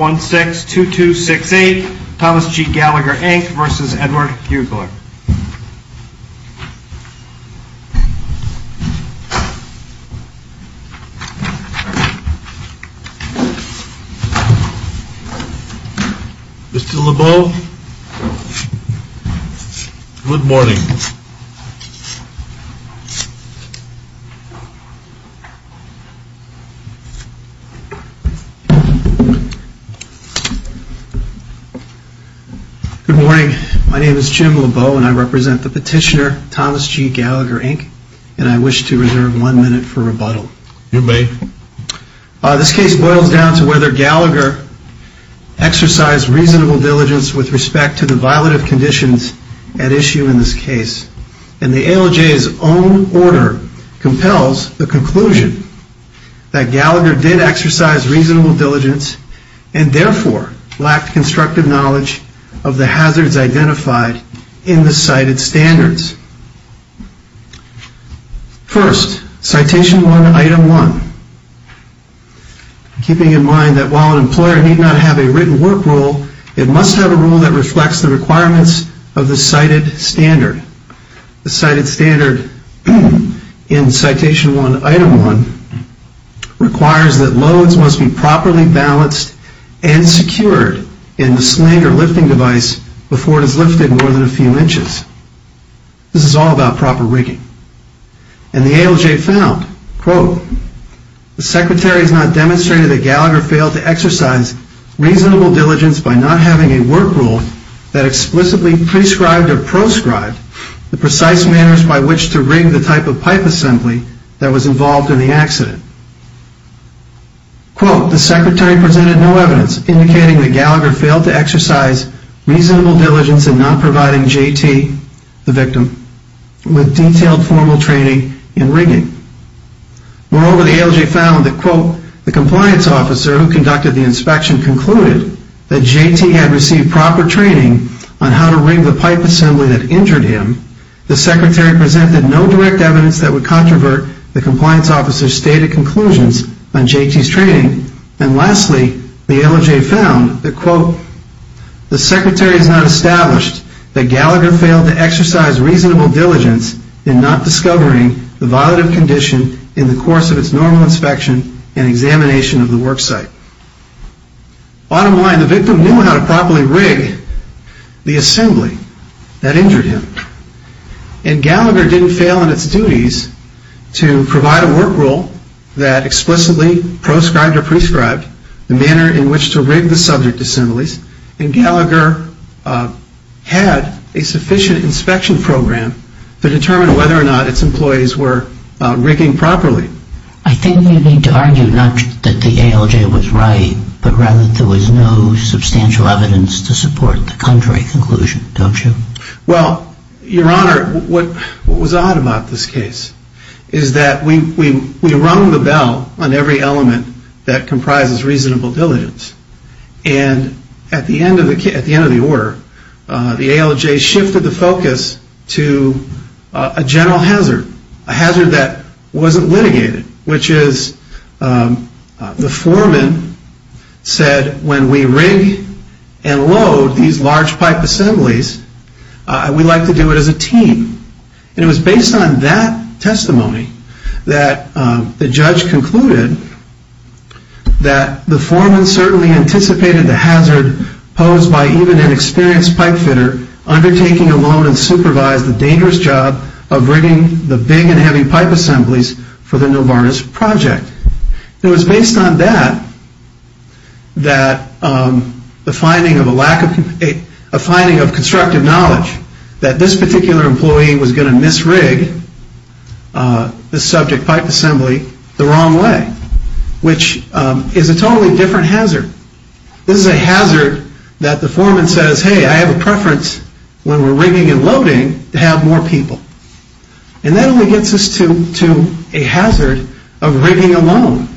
1-6-2-2-6-8, Thomas G. Gallagher, Inc. v. Edward Hugler 1-6-2-2-6-8, Thomas G. Gallagher, Inc. v. Edward Hugler Mr. Lebeau, good morning. My name is Jim Lebeau, and I represent the petitioner, Thomas G. Gallagher, Inc. and I wish to reserve one minute for rebuttal. You may. This case boils down to whether Gallagher exercised reasonable diligence with respect to the violative conditions at issue in this case. The ALJ's own order compels the conclusion that Gallagher did exercise reasonable diligence and therefore lacked constructive knowledge of the hazards identified in the cited standards. First, Citation I, Item 1. Keeping in mind that while an employer need not have a written work rule, it must have a rule that reflects the requirements of the cited standard. The cited standard in Citation I, Item 1 requires that loads must be properly balanced and secured in the sling or lifting device before it is lifted more than a few inches. This is all about proper rigging. And the ALJ found, The Secretary has not demonstrated that Gallagher failed to exercise reasonable diligence by not having a work rule that explicitly prescribed or proscribed the precise manners by which to rig the type of pipe assembly that was involved in the accident. The Secretary presented no evidence indicating that Gallagher failed to exercise reasonable diligence in not providing JT, the victim, with detailed formal training in rigging. Moreover, the ALJ found that, The compliance officer who conducted the inspection concluded that JT had received proper training on how to rig the pipe assembly that injured him. The Secretary presented no direct evidence that would controvert the compliance officer's stated conclusions on JT's training. And lastly, the ALJ found that, The Secretary has not established that Gallagher failed to exercise reasonable diligence in not discovering the violative condition in the course of its normal inspection and examination of the worksite. Bottom line, the victim knew how to properly rig the assembly that injured him. And Gallagher didn't fail in its duties to provide a work rule that explicitly proscribed or prescribed the manner in which to rig the subject assemblies. And Gallagher had a sufficient inspection program to determine whether or not its employees were rigging properly. I think we need to argue not that the ALJ was right, but rather that there was no substantial evidence to support the contrary conclusion, don't you? Well, Your Honor, what was odd about this case is that we rung the bell on every element that comprises reasonable diligence. And at the end of the order, the ALJ shifted the focus to a general hazard, a hazard that wasn't litigated, which is, the foreman said, when we rig and load these large pipe assemblies, we like to do it as a team. And it was based on that testimony that the judge concluded that the foreman certainly anticipated the hazard posed by even an experienced pipe fitter undertaking alone and supervised the dangerous job of rigging the big and heavy pipe assemblies for the Novartis project. It was based on that, that the finding of a lack of, a finding of constructive knowledge that this particular employee was going to misrig the subject pipe assembly the wrong way, which is a totally different hazard. This is a hazard that the foreman says, hey, I have a preference when we're rigging and loading to have more people. And that only gets us to a hazard of rigging alone.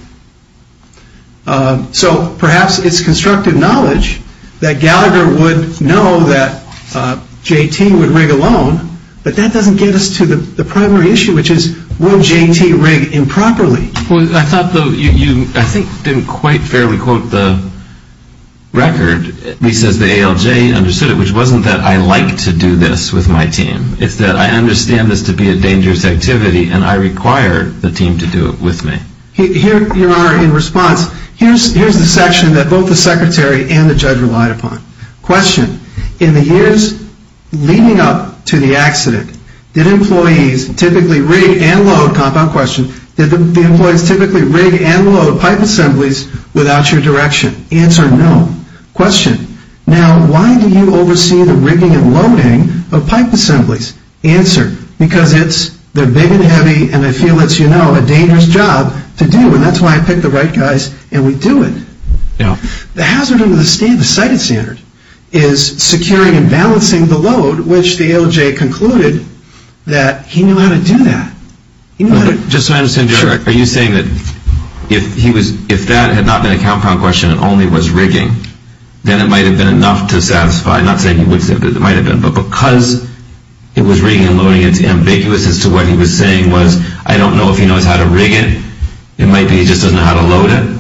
So perhaps it's constructive knowledge that Gallagher would know that JT would rig alone, but that doesn't get us to the primary issue, which is, will JT rig improperly? Well, I thought you, I think, didn't quite fairly quote the record. He says the ALJ understood it, which wasn't that I like to do this with my team. It's that I understand this to be a dangerous activity, and I require the team to do it with me. Your Honor, in response, here's the section that both the secretary and the judge relied upon. Question. In the years leading up to the accident, did employees typically rig and load, compound question, did the employees typically rig and load pipe assemblies without your direction? Answer no. Question. Now, why do you oversee the rigging and loading of pipe assemblies? Answer. Because it's, they're big and heavy, and I feel it's, you know, a dangerous job to do, and that's why I picked the right guys, and we do it. The hazard under the cited standard is securing and balancing the load, which the ALJ concluded that he knew how to do that. Just so I understand, Judge, are you saying that if that had not been a compound question and only was rigging, then it might have been enough to satisfy, not saying he would say, but it might have been, but because it was rigging and loading, it's ambiguous as to what he was saying was, I don't know if he knows how to rig it. It might be he just doesn't know how to load it.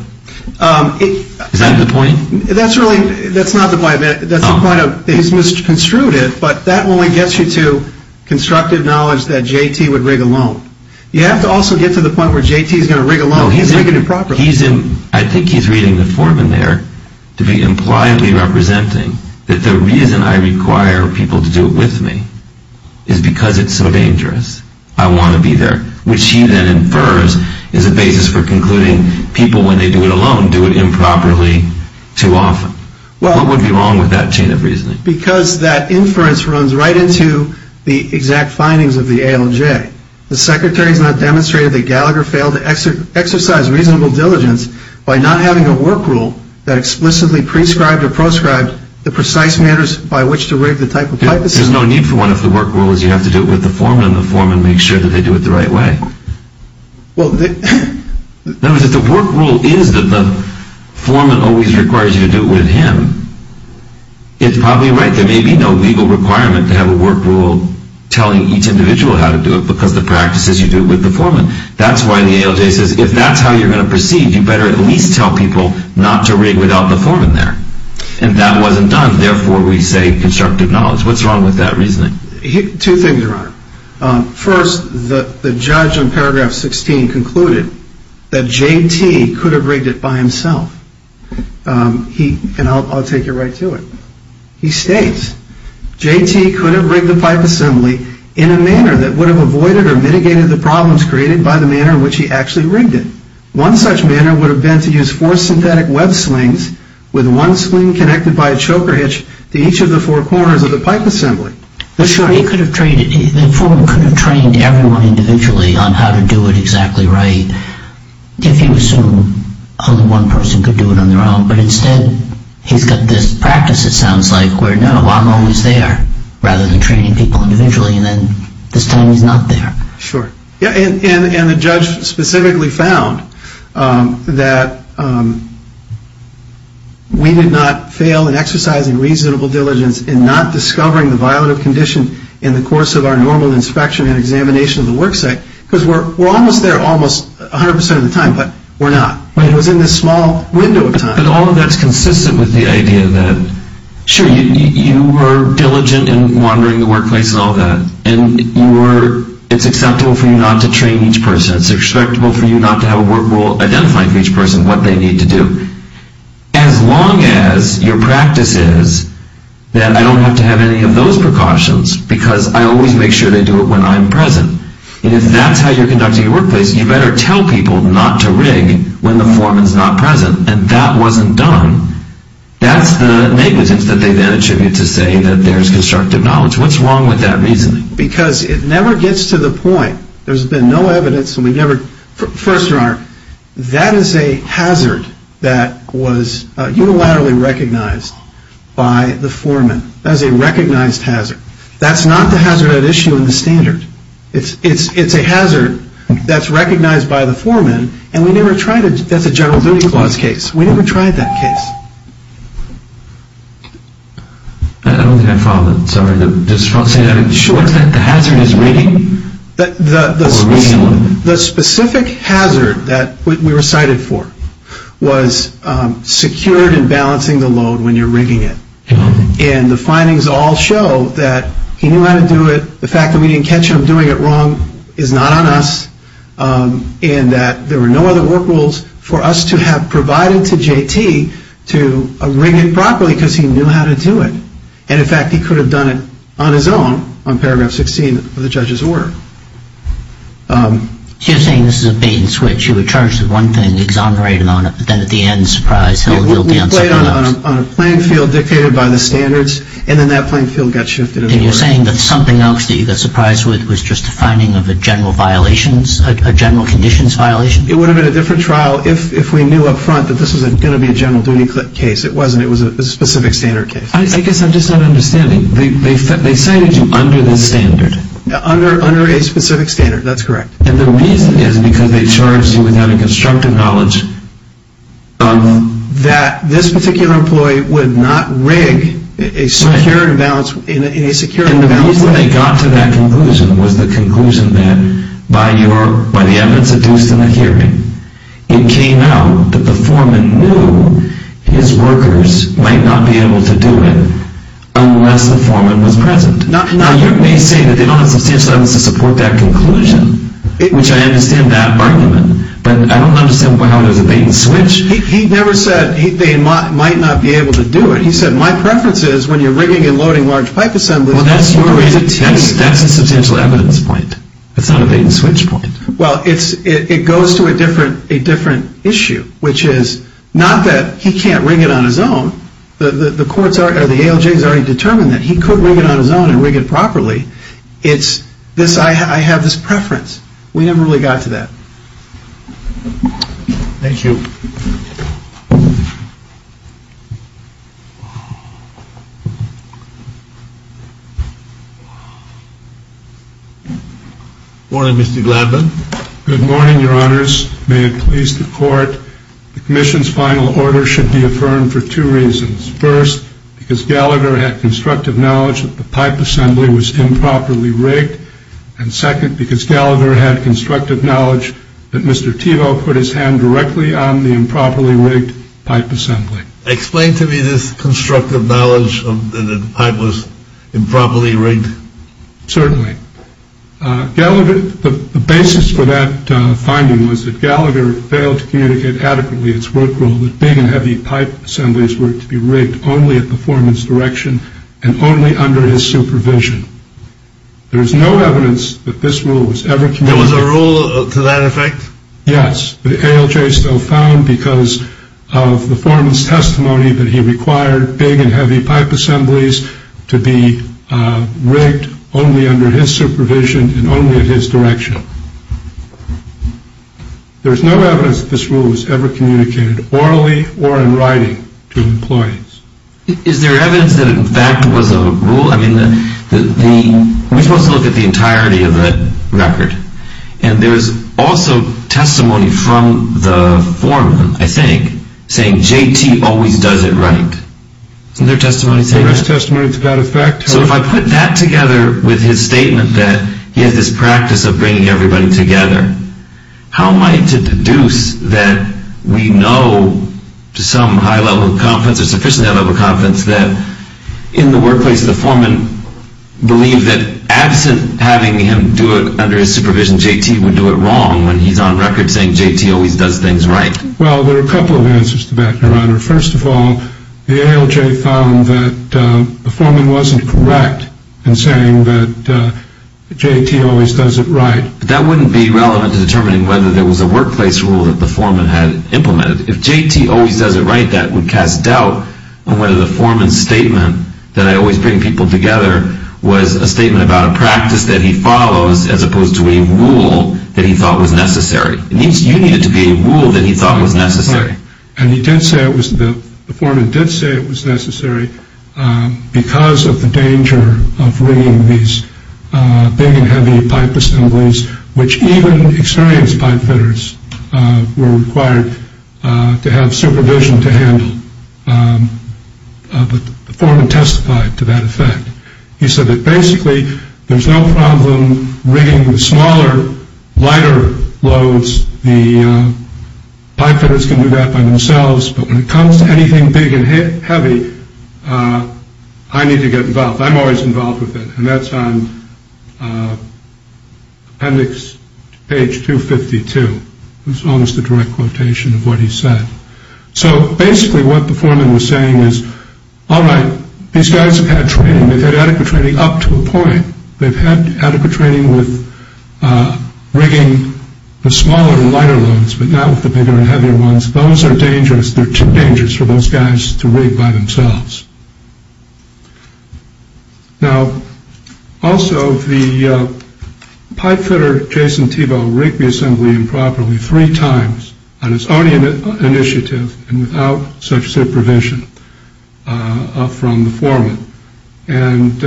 Is that the point? That's really, that's not the point. That's the point of, he's misconstrued it, but that only gets you to constructive knowledge that J.T. would rig alone. You have to also get to the point where J.T. is going to rig alone. He's rigging it properly. I think he's reading the form in there to be impliedly representing that the reason I require people to do it with me is because it's so dangerous. I want to be there, which he then infers is a basis for concluding people, when they do it alone, do it improperly too often. What would be wrong with that chain of reasoning? Because that inference runs right into the exact findings of the ALJ. The Secretary has not demonstrated that Gallagher failed to exercise reasonable diligence by not having a work rule that explicitly prescribed or proscribed the precise manners by which to rig the type of pipasys. There's no need for one if the work rule is you have to do it with the foreman and the foreman makes sure that they do it the right way. In other words, if the work rule is that the foreman always requires you to do it with him, it's probably right. There may be no legal requirement to have a work rule telling each individual how to do it because the practice is you do it with the foreman. That's why the ALJ says if that's how you're going to proceed, you better at least tell people not to rig without the foreman there. If that wasn't done, therefore we say constructive knowledge. What's wrong with that reasoning? Two things are wrong. First, the judge in paragraph 16 concluded that JT could have rigged it by himself. And I'll take you right to it. He states, JT could have rigged the pipe assembly in a manner that would have avoided or mitigated the problems created by the manner in which he actually rigged it. One such manner would have been to use four synthetic web slings with one sling connected by a choker hitch to each of the four corners of the pipe assembly. The foreman could have trained everyone individually on how to do it exactly right if he assumed only one person could do it on their own. But instead, he's got this practice, it sounds like, where no, I'm always there rather than training people individually, and then this time he's not there. Sure. And the judge specifically found that we did not fail in exercising reasonable diligence in not discovering the violative condition in the course of our normal inspection and examination of the work site because we're almost there almost 100% of the time, but we're not. I mean, it was in this small window of time. But all of that's consistent with the idea that, sure, you were diligent in monitoring the workplace and all that, and it's acceptable for you not to train each person. It's acceptable for you not to have a work rule identifying for each person what they need to do. As long as your practice is that I don't have to have any of those precautions because I always make sure they do it when I'm present. And if that's how you're conducting your workplace, you better tell people not to rig when the foreman's not present, and that wasn't done. That's the negligence that they then attribute to say that there's constructive knowledge. What's wrong with that reasoning? Because it never gets to the point, there's been no evidence, and we never, first of all, that is a hazard that was unilaterally recognized by the foreman. That is a recognized hazard. That's not the hazard at issue in the standard. It's a hazard that's recognized by the foreman, and we never tried it. That's a general duty clause case. We never tried that case. I don't think I followed that. Sorry. The hazard is rigging? The specific hazard that we were cited for was secured and balancing the load when you're rigging it. And the findings all show that he knew how to do it. The fact that we didn't catch him doing it wrong is not on us, and that there were no other work rules for us to have provided to J.T. to rig it properly because he knew how to do it. And, in fact, he could have done it on his own on Paragraph 16 of the judge's order. You're saying this is a bait and switch. You would charge the one thing, exonerate him on it, but then at the end, surprise, he'll do something else. He played on a playing field dictated by the standards, and then that playing field got shifted. And you're saying that something else that you got surprised with was just a finding of a general violations, a general conditions violation? It would have been a different trial if we knew up front that this was going to be a general duty case. It wasn't. It was a specific standard case. I guess I'm just not understanding. They cited you under the standard. Under a specific standard. That's correct. And the reason is because they charged you with having constructive knowledge. That this particular employee would not rig a security imbalance. And the reason they got to that conclusion was the conclusion that, by the evidence deduced in the hearing, it came out that the foreman knew his workers might not be able to do it unless the foreman was present. Now, you're basically saying that they don't have substantial evidence to support that conclusion, which I understand that argument. But I don't understand why there's a bait and switch. He never said they might not be able to do it. He said, my preference is when you're rigging and loading large pipe assemblies. Well, that's your reason too. That's a substantial evidence point. It's not a bait and switch point. Well, it goes to a different issue, which is not that he can't rig it on his own. The ALJ has already determined that he could rig it on his own and rig it properly. It's this, I have this preference. We never really got to that. Thank you. Good morning, Mr. Gladman. May it please the court, the commission's final order should be affirmed for two reasons. First, because Gallagher had constructive knowledge that the pipe assembly was improperly rigged. And second, because Gallagher had constructive knowledge that Mr. Tivo put his hand directly on the improperly rigged pipe assembly. Explain to me this constructive knowledge that the pipe was improperly rigged. Certainly. Gallagher, the basis for that finding was that Gallagher failed to communicate adequately its work rule that big and heavy pipe assemblies were to be rigged only at the foreman's direction and only under his supervision. There is no evidence that this rule was ever communicated. There was a rule to that effect? Yes. big and heavy pipe assemblies to be rigged only under his supervision and only at his direction. There is no evidence that this rule was ever communicated orally or in writing to employees. Is there evidence that in fact was a rule? I mean, we're supposed to look at the entirety of the record. And there is also testimony from the foreman, I think, saying J.T. always does it right. Isn't there testimony to that? There is testimony to that effect. So if I put that together with his statement that he had this practice of bringing everybody together, how am I to deduce that we know to some high level of confidence or sufficiently high level of confidence that in the workplace the foreman believed that absent having him do it under his supervision, J.T. would do it wrong when he's on record saying J.T. always does things right? Well, there are a couple of answers to that, Your Honor. First of all, the ALJ found that the foreman wasn't correct in saying that J.T. always does it right. That wouldn't be relevant to determining whether there was a workplace rule that the foreman had implemented. If J.T. always does it right, that would cast doubt on whether the foreman's statement, that I always bring people together, was a statement about a practice that he follows as opposed to a rule that he thought was necessary. You need it to be a rule that he thought was necessary. And he did say it was the foreman did say it was necessary because of the danger of bringing these big and heavy pipe assemblies, which even experienced pipe fitters were required to have supervision to handle. The foreman testified to that effect. He said that basically there's no problem rigging the smaller, lighter loads. The pipe fitters can do that by themselves, but when it comes to anything big and heavy, I need to get involved. I'm always involved with it, and that's on appendix page 252. It's almost a direct quotation of what he said. So basically what the foreman was saying is, all right, these guys have had training. They've had adequate training up to a point. They've had adequate training with rigging the smaller and lighter loads, but not with the bigger and heavier ones. Those are dangerous. They're too dangerous for those guys to rig by themselves. Now, also, the pipe fitter, Jason Tebow, rigged the assembly improperly three times on his own initiative and without such supervision from the foreman. And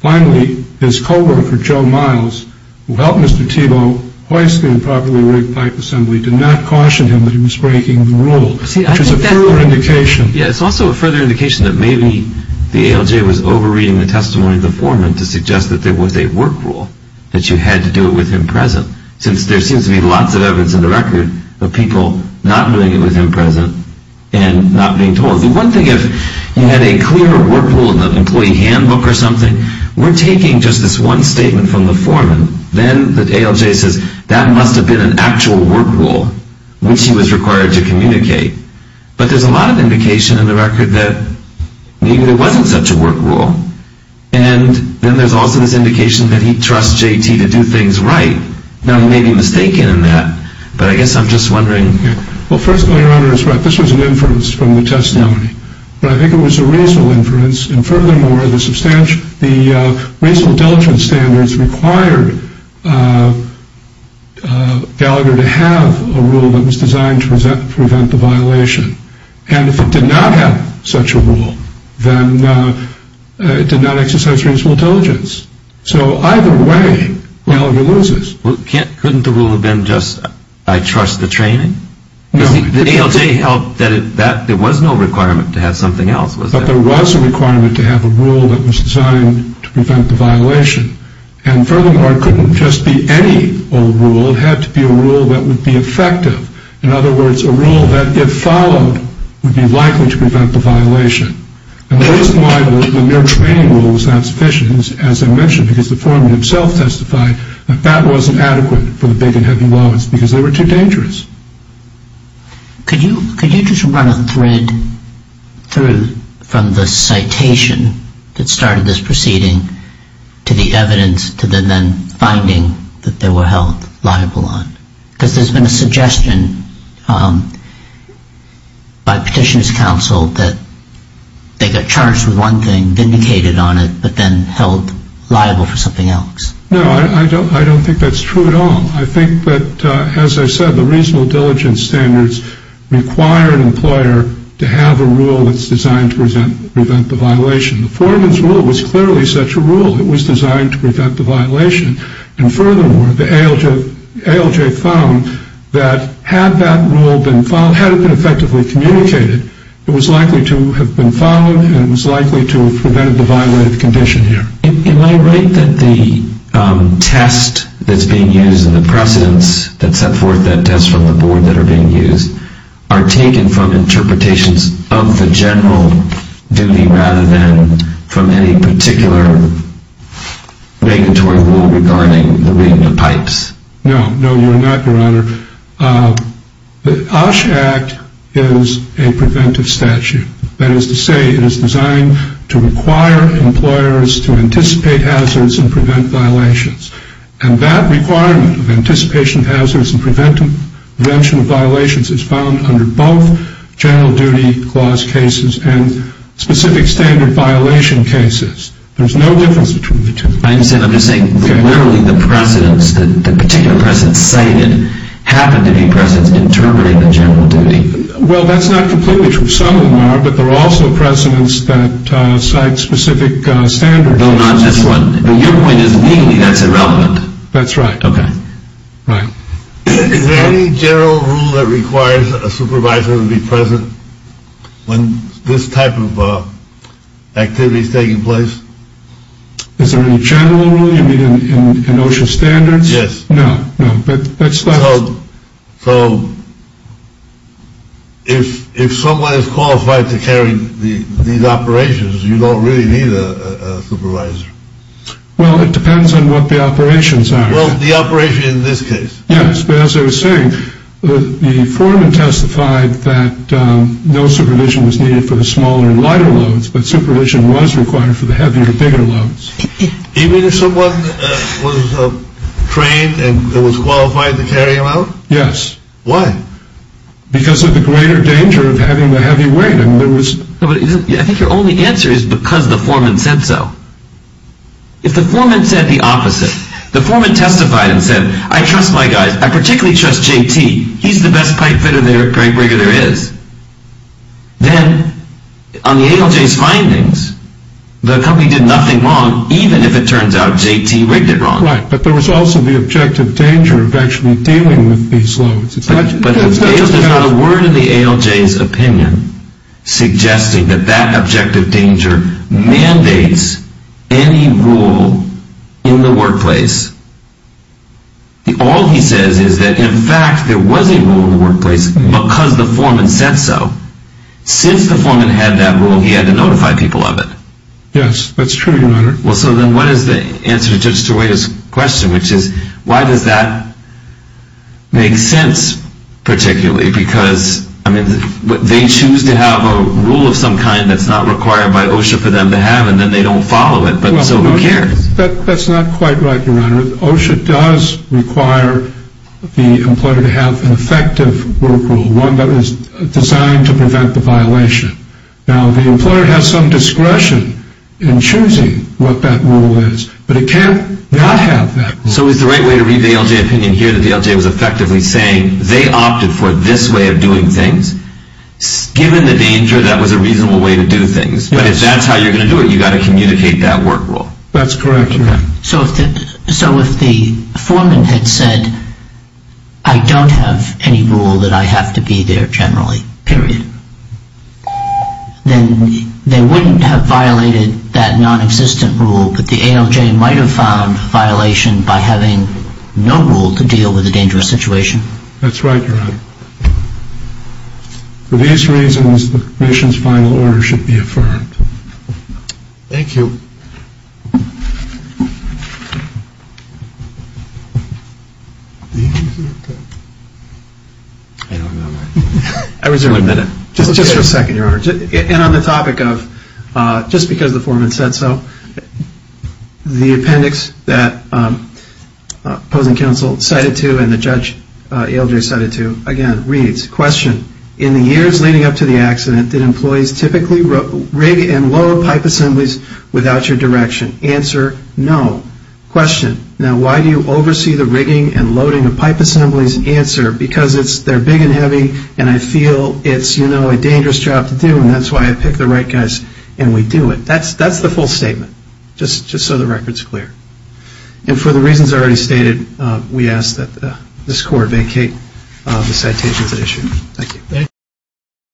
finally, his coworker, Joe Miles, who helped Mr. Tebow hoist the improperly rigged pipe assembly, did not caution him that he was breaking the rule, which is a further indication. Yeah, it's also a further indication that maybe the ALJ was over-reading the testimony of the foreman to suggest that there was a work rule, that you had to do it with him present, since there seems to be lots of evidence in the record of people not doing it with him present and not being told. The one thing, if you had a clear work rule in the employee handbook or something, we're taking just this one statement from the foreman. Then the ALJ says, that must have been an actual work rule, which he was required to communicate. But there's a lot of indication in the record that maybe there wasn't such a work rule. And then there's also this indication that he trusts JT to do things right. Now, he may be mistaken in that, but I guess I'm just wondering. Well, first of all, Your Honor, this was an inference from the testimony, but I think it was a reasonable inference. And furthermore, the reasonable diligence standards required Gallagher to have a rule that was designed to prevent the violation. And if it did not have such a rule, then it did not exercise reasonable diligence. So either way, Gallagher loses. Couldn't the rule have been just, I trust the training? The ALJ held that there was no requirement to have something else, was there? But there was a requirement to have a rule that was designed to prevent the violation. And furthermore, it couldn't just be any old rule. It had to be a rule that would be effective. In other words, a rule that, if followed, would be likely to prevent the violation. And the reason why the mere training rule was not sufficient is, as I mentioned, because the foreman himself testified that that wasn't adequate for the big and heavy loads, because they were too dangerous. Could you just run a thread through from the citation that started this proceeding to the evidence, to the then finding that they were held liable on? Because there's been a suggestion by Petitioner's Counsel that they got charged with one thing, vindicated on it, but then held liable for something else. No, I don't think that's true at all. I think that, as I said, the reasonable diligence standards require an employer to have a rule that's designed to prevent the violation. The foreman's rule was clearly such a rule. It was designed to prevent the violation. And furthermore, the ALJ found that had that rule been followed, had it been effectively communicated, it was likely to have been followed and it was likely to have prevented the violated condition here. Am I right that the test that's being used and the precedents that set forth that test from the board that are being used are taken from interpretations of the general duty rather than from any particular regulatory rule regarding the reading of pipes? No, no, you're not, Your Honor. The OSH Act is a preventive statute. That is to say it is designed to require employers to anticipate hazards and prevent violations. And that requirement of anticipation of hazards and prevention of violations is found under both general duty clause cases and specific standard violation cases. There's no difference between the two. I understand. I'm just saying literally the precedents, the particular precedents cited, happen to be precedents interpreting the general duty. Well, that's not completely true. Some of them are, but there are also precedents that cite specific standards. No, not this one. Your point is legally that's irrelevant. That's right. Okay. Right. Is there any general rule that requires a supervisor to be present when this type of activity is taking place? Is there any general rule you mean in OSHA standards? Yes. No, no. So if someone is qualified to carry these operations, you don't really need a supervisor. Well, it depends on what the operations are. Well, the operation in this case. Yes, but as I was saying, the foreman testified that no supervision was needed for the smaller and lighter loads, but supervision was required for the heavier, bigger loads. You mean if someone was trained and was qualified to carry them out? Yes. Why? Because of the greater danger of having the heavy weight. I think your only answer is because the foreman said so. If the foreman said the opposite, the foreman testified and said, I trust my guys. I particularly trust JT. He's the best pipe fitter there is. Then on the ALJ's findings, the company did nothing wrong, even if it turns out JT rigged it wrong. Right, but there was also the objective danger of actually dealing with these loads. But there's not a word in the ALJ's opinion suggesting that that objective danger mandates any rule in the workplace. All he says is that, in fact, there was a rule in the workplace because the foreman said so. Since the foreman had that rule, he had to notify people of it. Yes, that's true, Your Honor. Well, so then what is the answer to Judge DeWay's question, which is, why does that make sense particularly? Because, I mean, they choose to have a rule of some kind that's not required by OSHA for them to have, and then they don't follow it, but so who cares? That's not quite right, Your Honor. OSHA does require the employer to have an effective work rule, one that is designed to prevent the violation. Now, the employer has some discretion in choosing what that rule is, but it can't not have that rule. So is the right way to read the ALJ opinion here that the ALJ was effectively saying they opted for this way of doing things? Given the danger, that was a reasonable way to do things. But if that's how you're going to do it, you've got to communicate that work rule. That's correct, Your Honor. So if the foreman had said, I don't have any rule that I have to be there generally, period, then they wouldn't have violated that nonexistent rule, but the ALJ might have found violation by having no rule to deal with a dangerous situation. That's right, Your Honor. For these reasons, the Commission's final order should be affirmed. Thank you. Just for a second, Your Honor. And on the topic of just because the foreman said so, the appendix that opposing counsel cited to and the judge ALJ cited to, again, reads, Question. In the years leading up to the accident, did employees typically rig and load pipe assemblies without your direction? Answer. No. Question. Now, why do you oversee the rigging and loading of pipe assemblies? Answer. Because they're big and heavy, and I feel it's, you know, a dangerous job to do, and that's why I pick the right guys and we do it. That's the full statement, just so the record's clear. And for the reasons already stated, we ask that this Court vacate the citations at issue. Thank you. Thank you.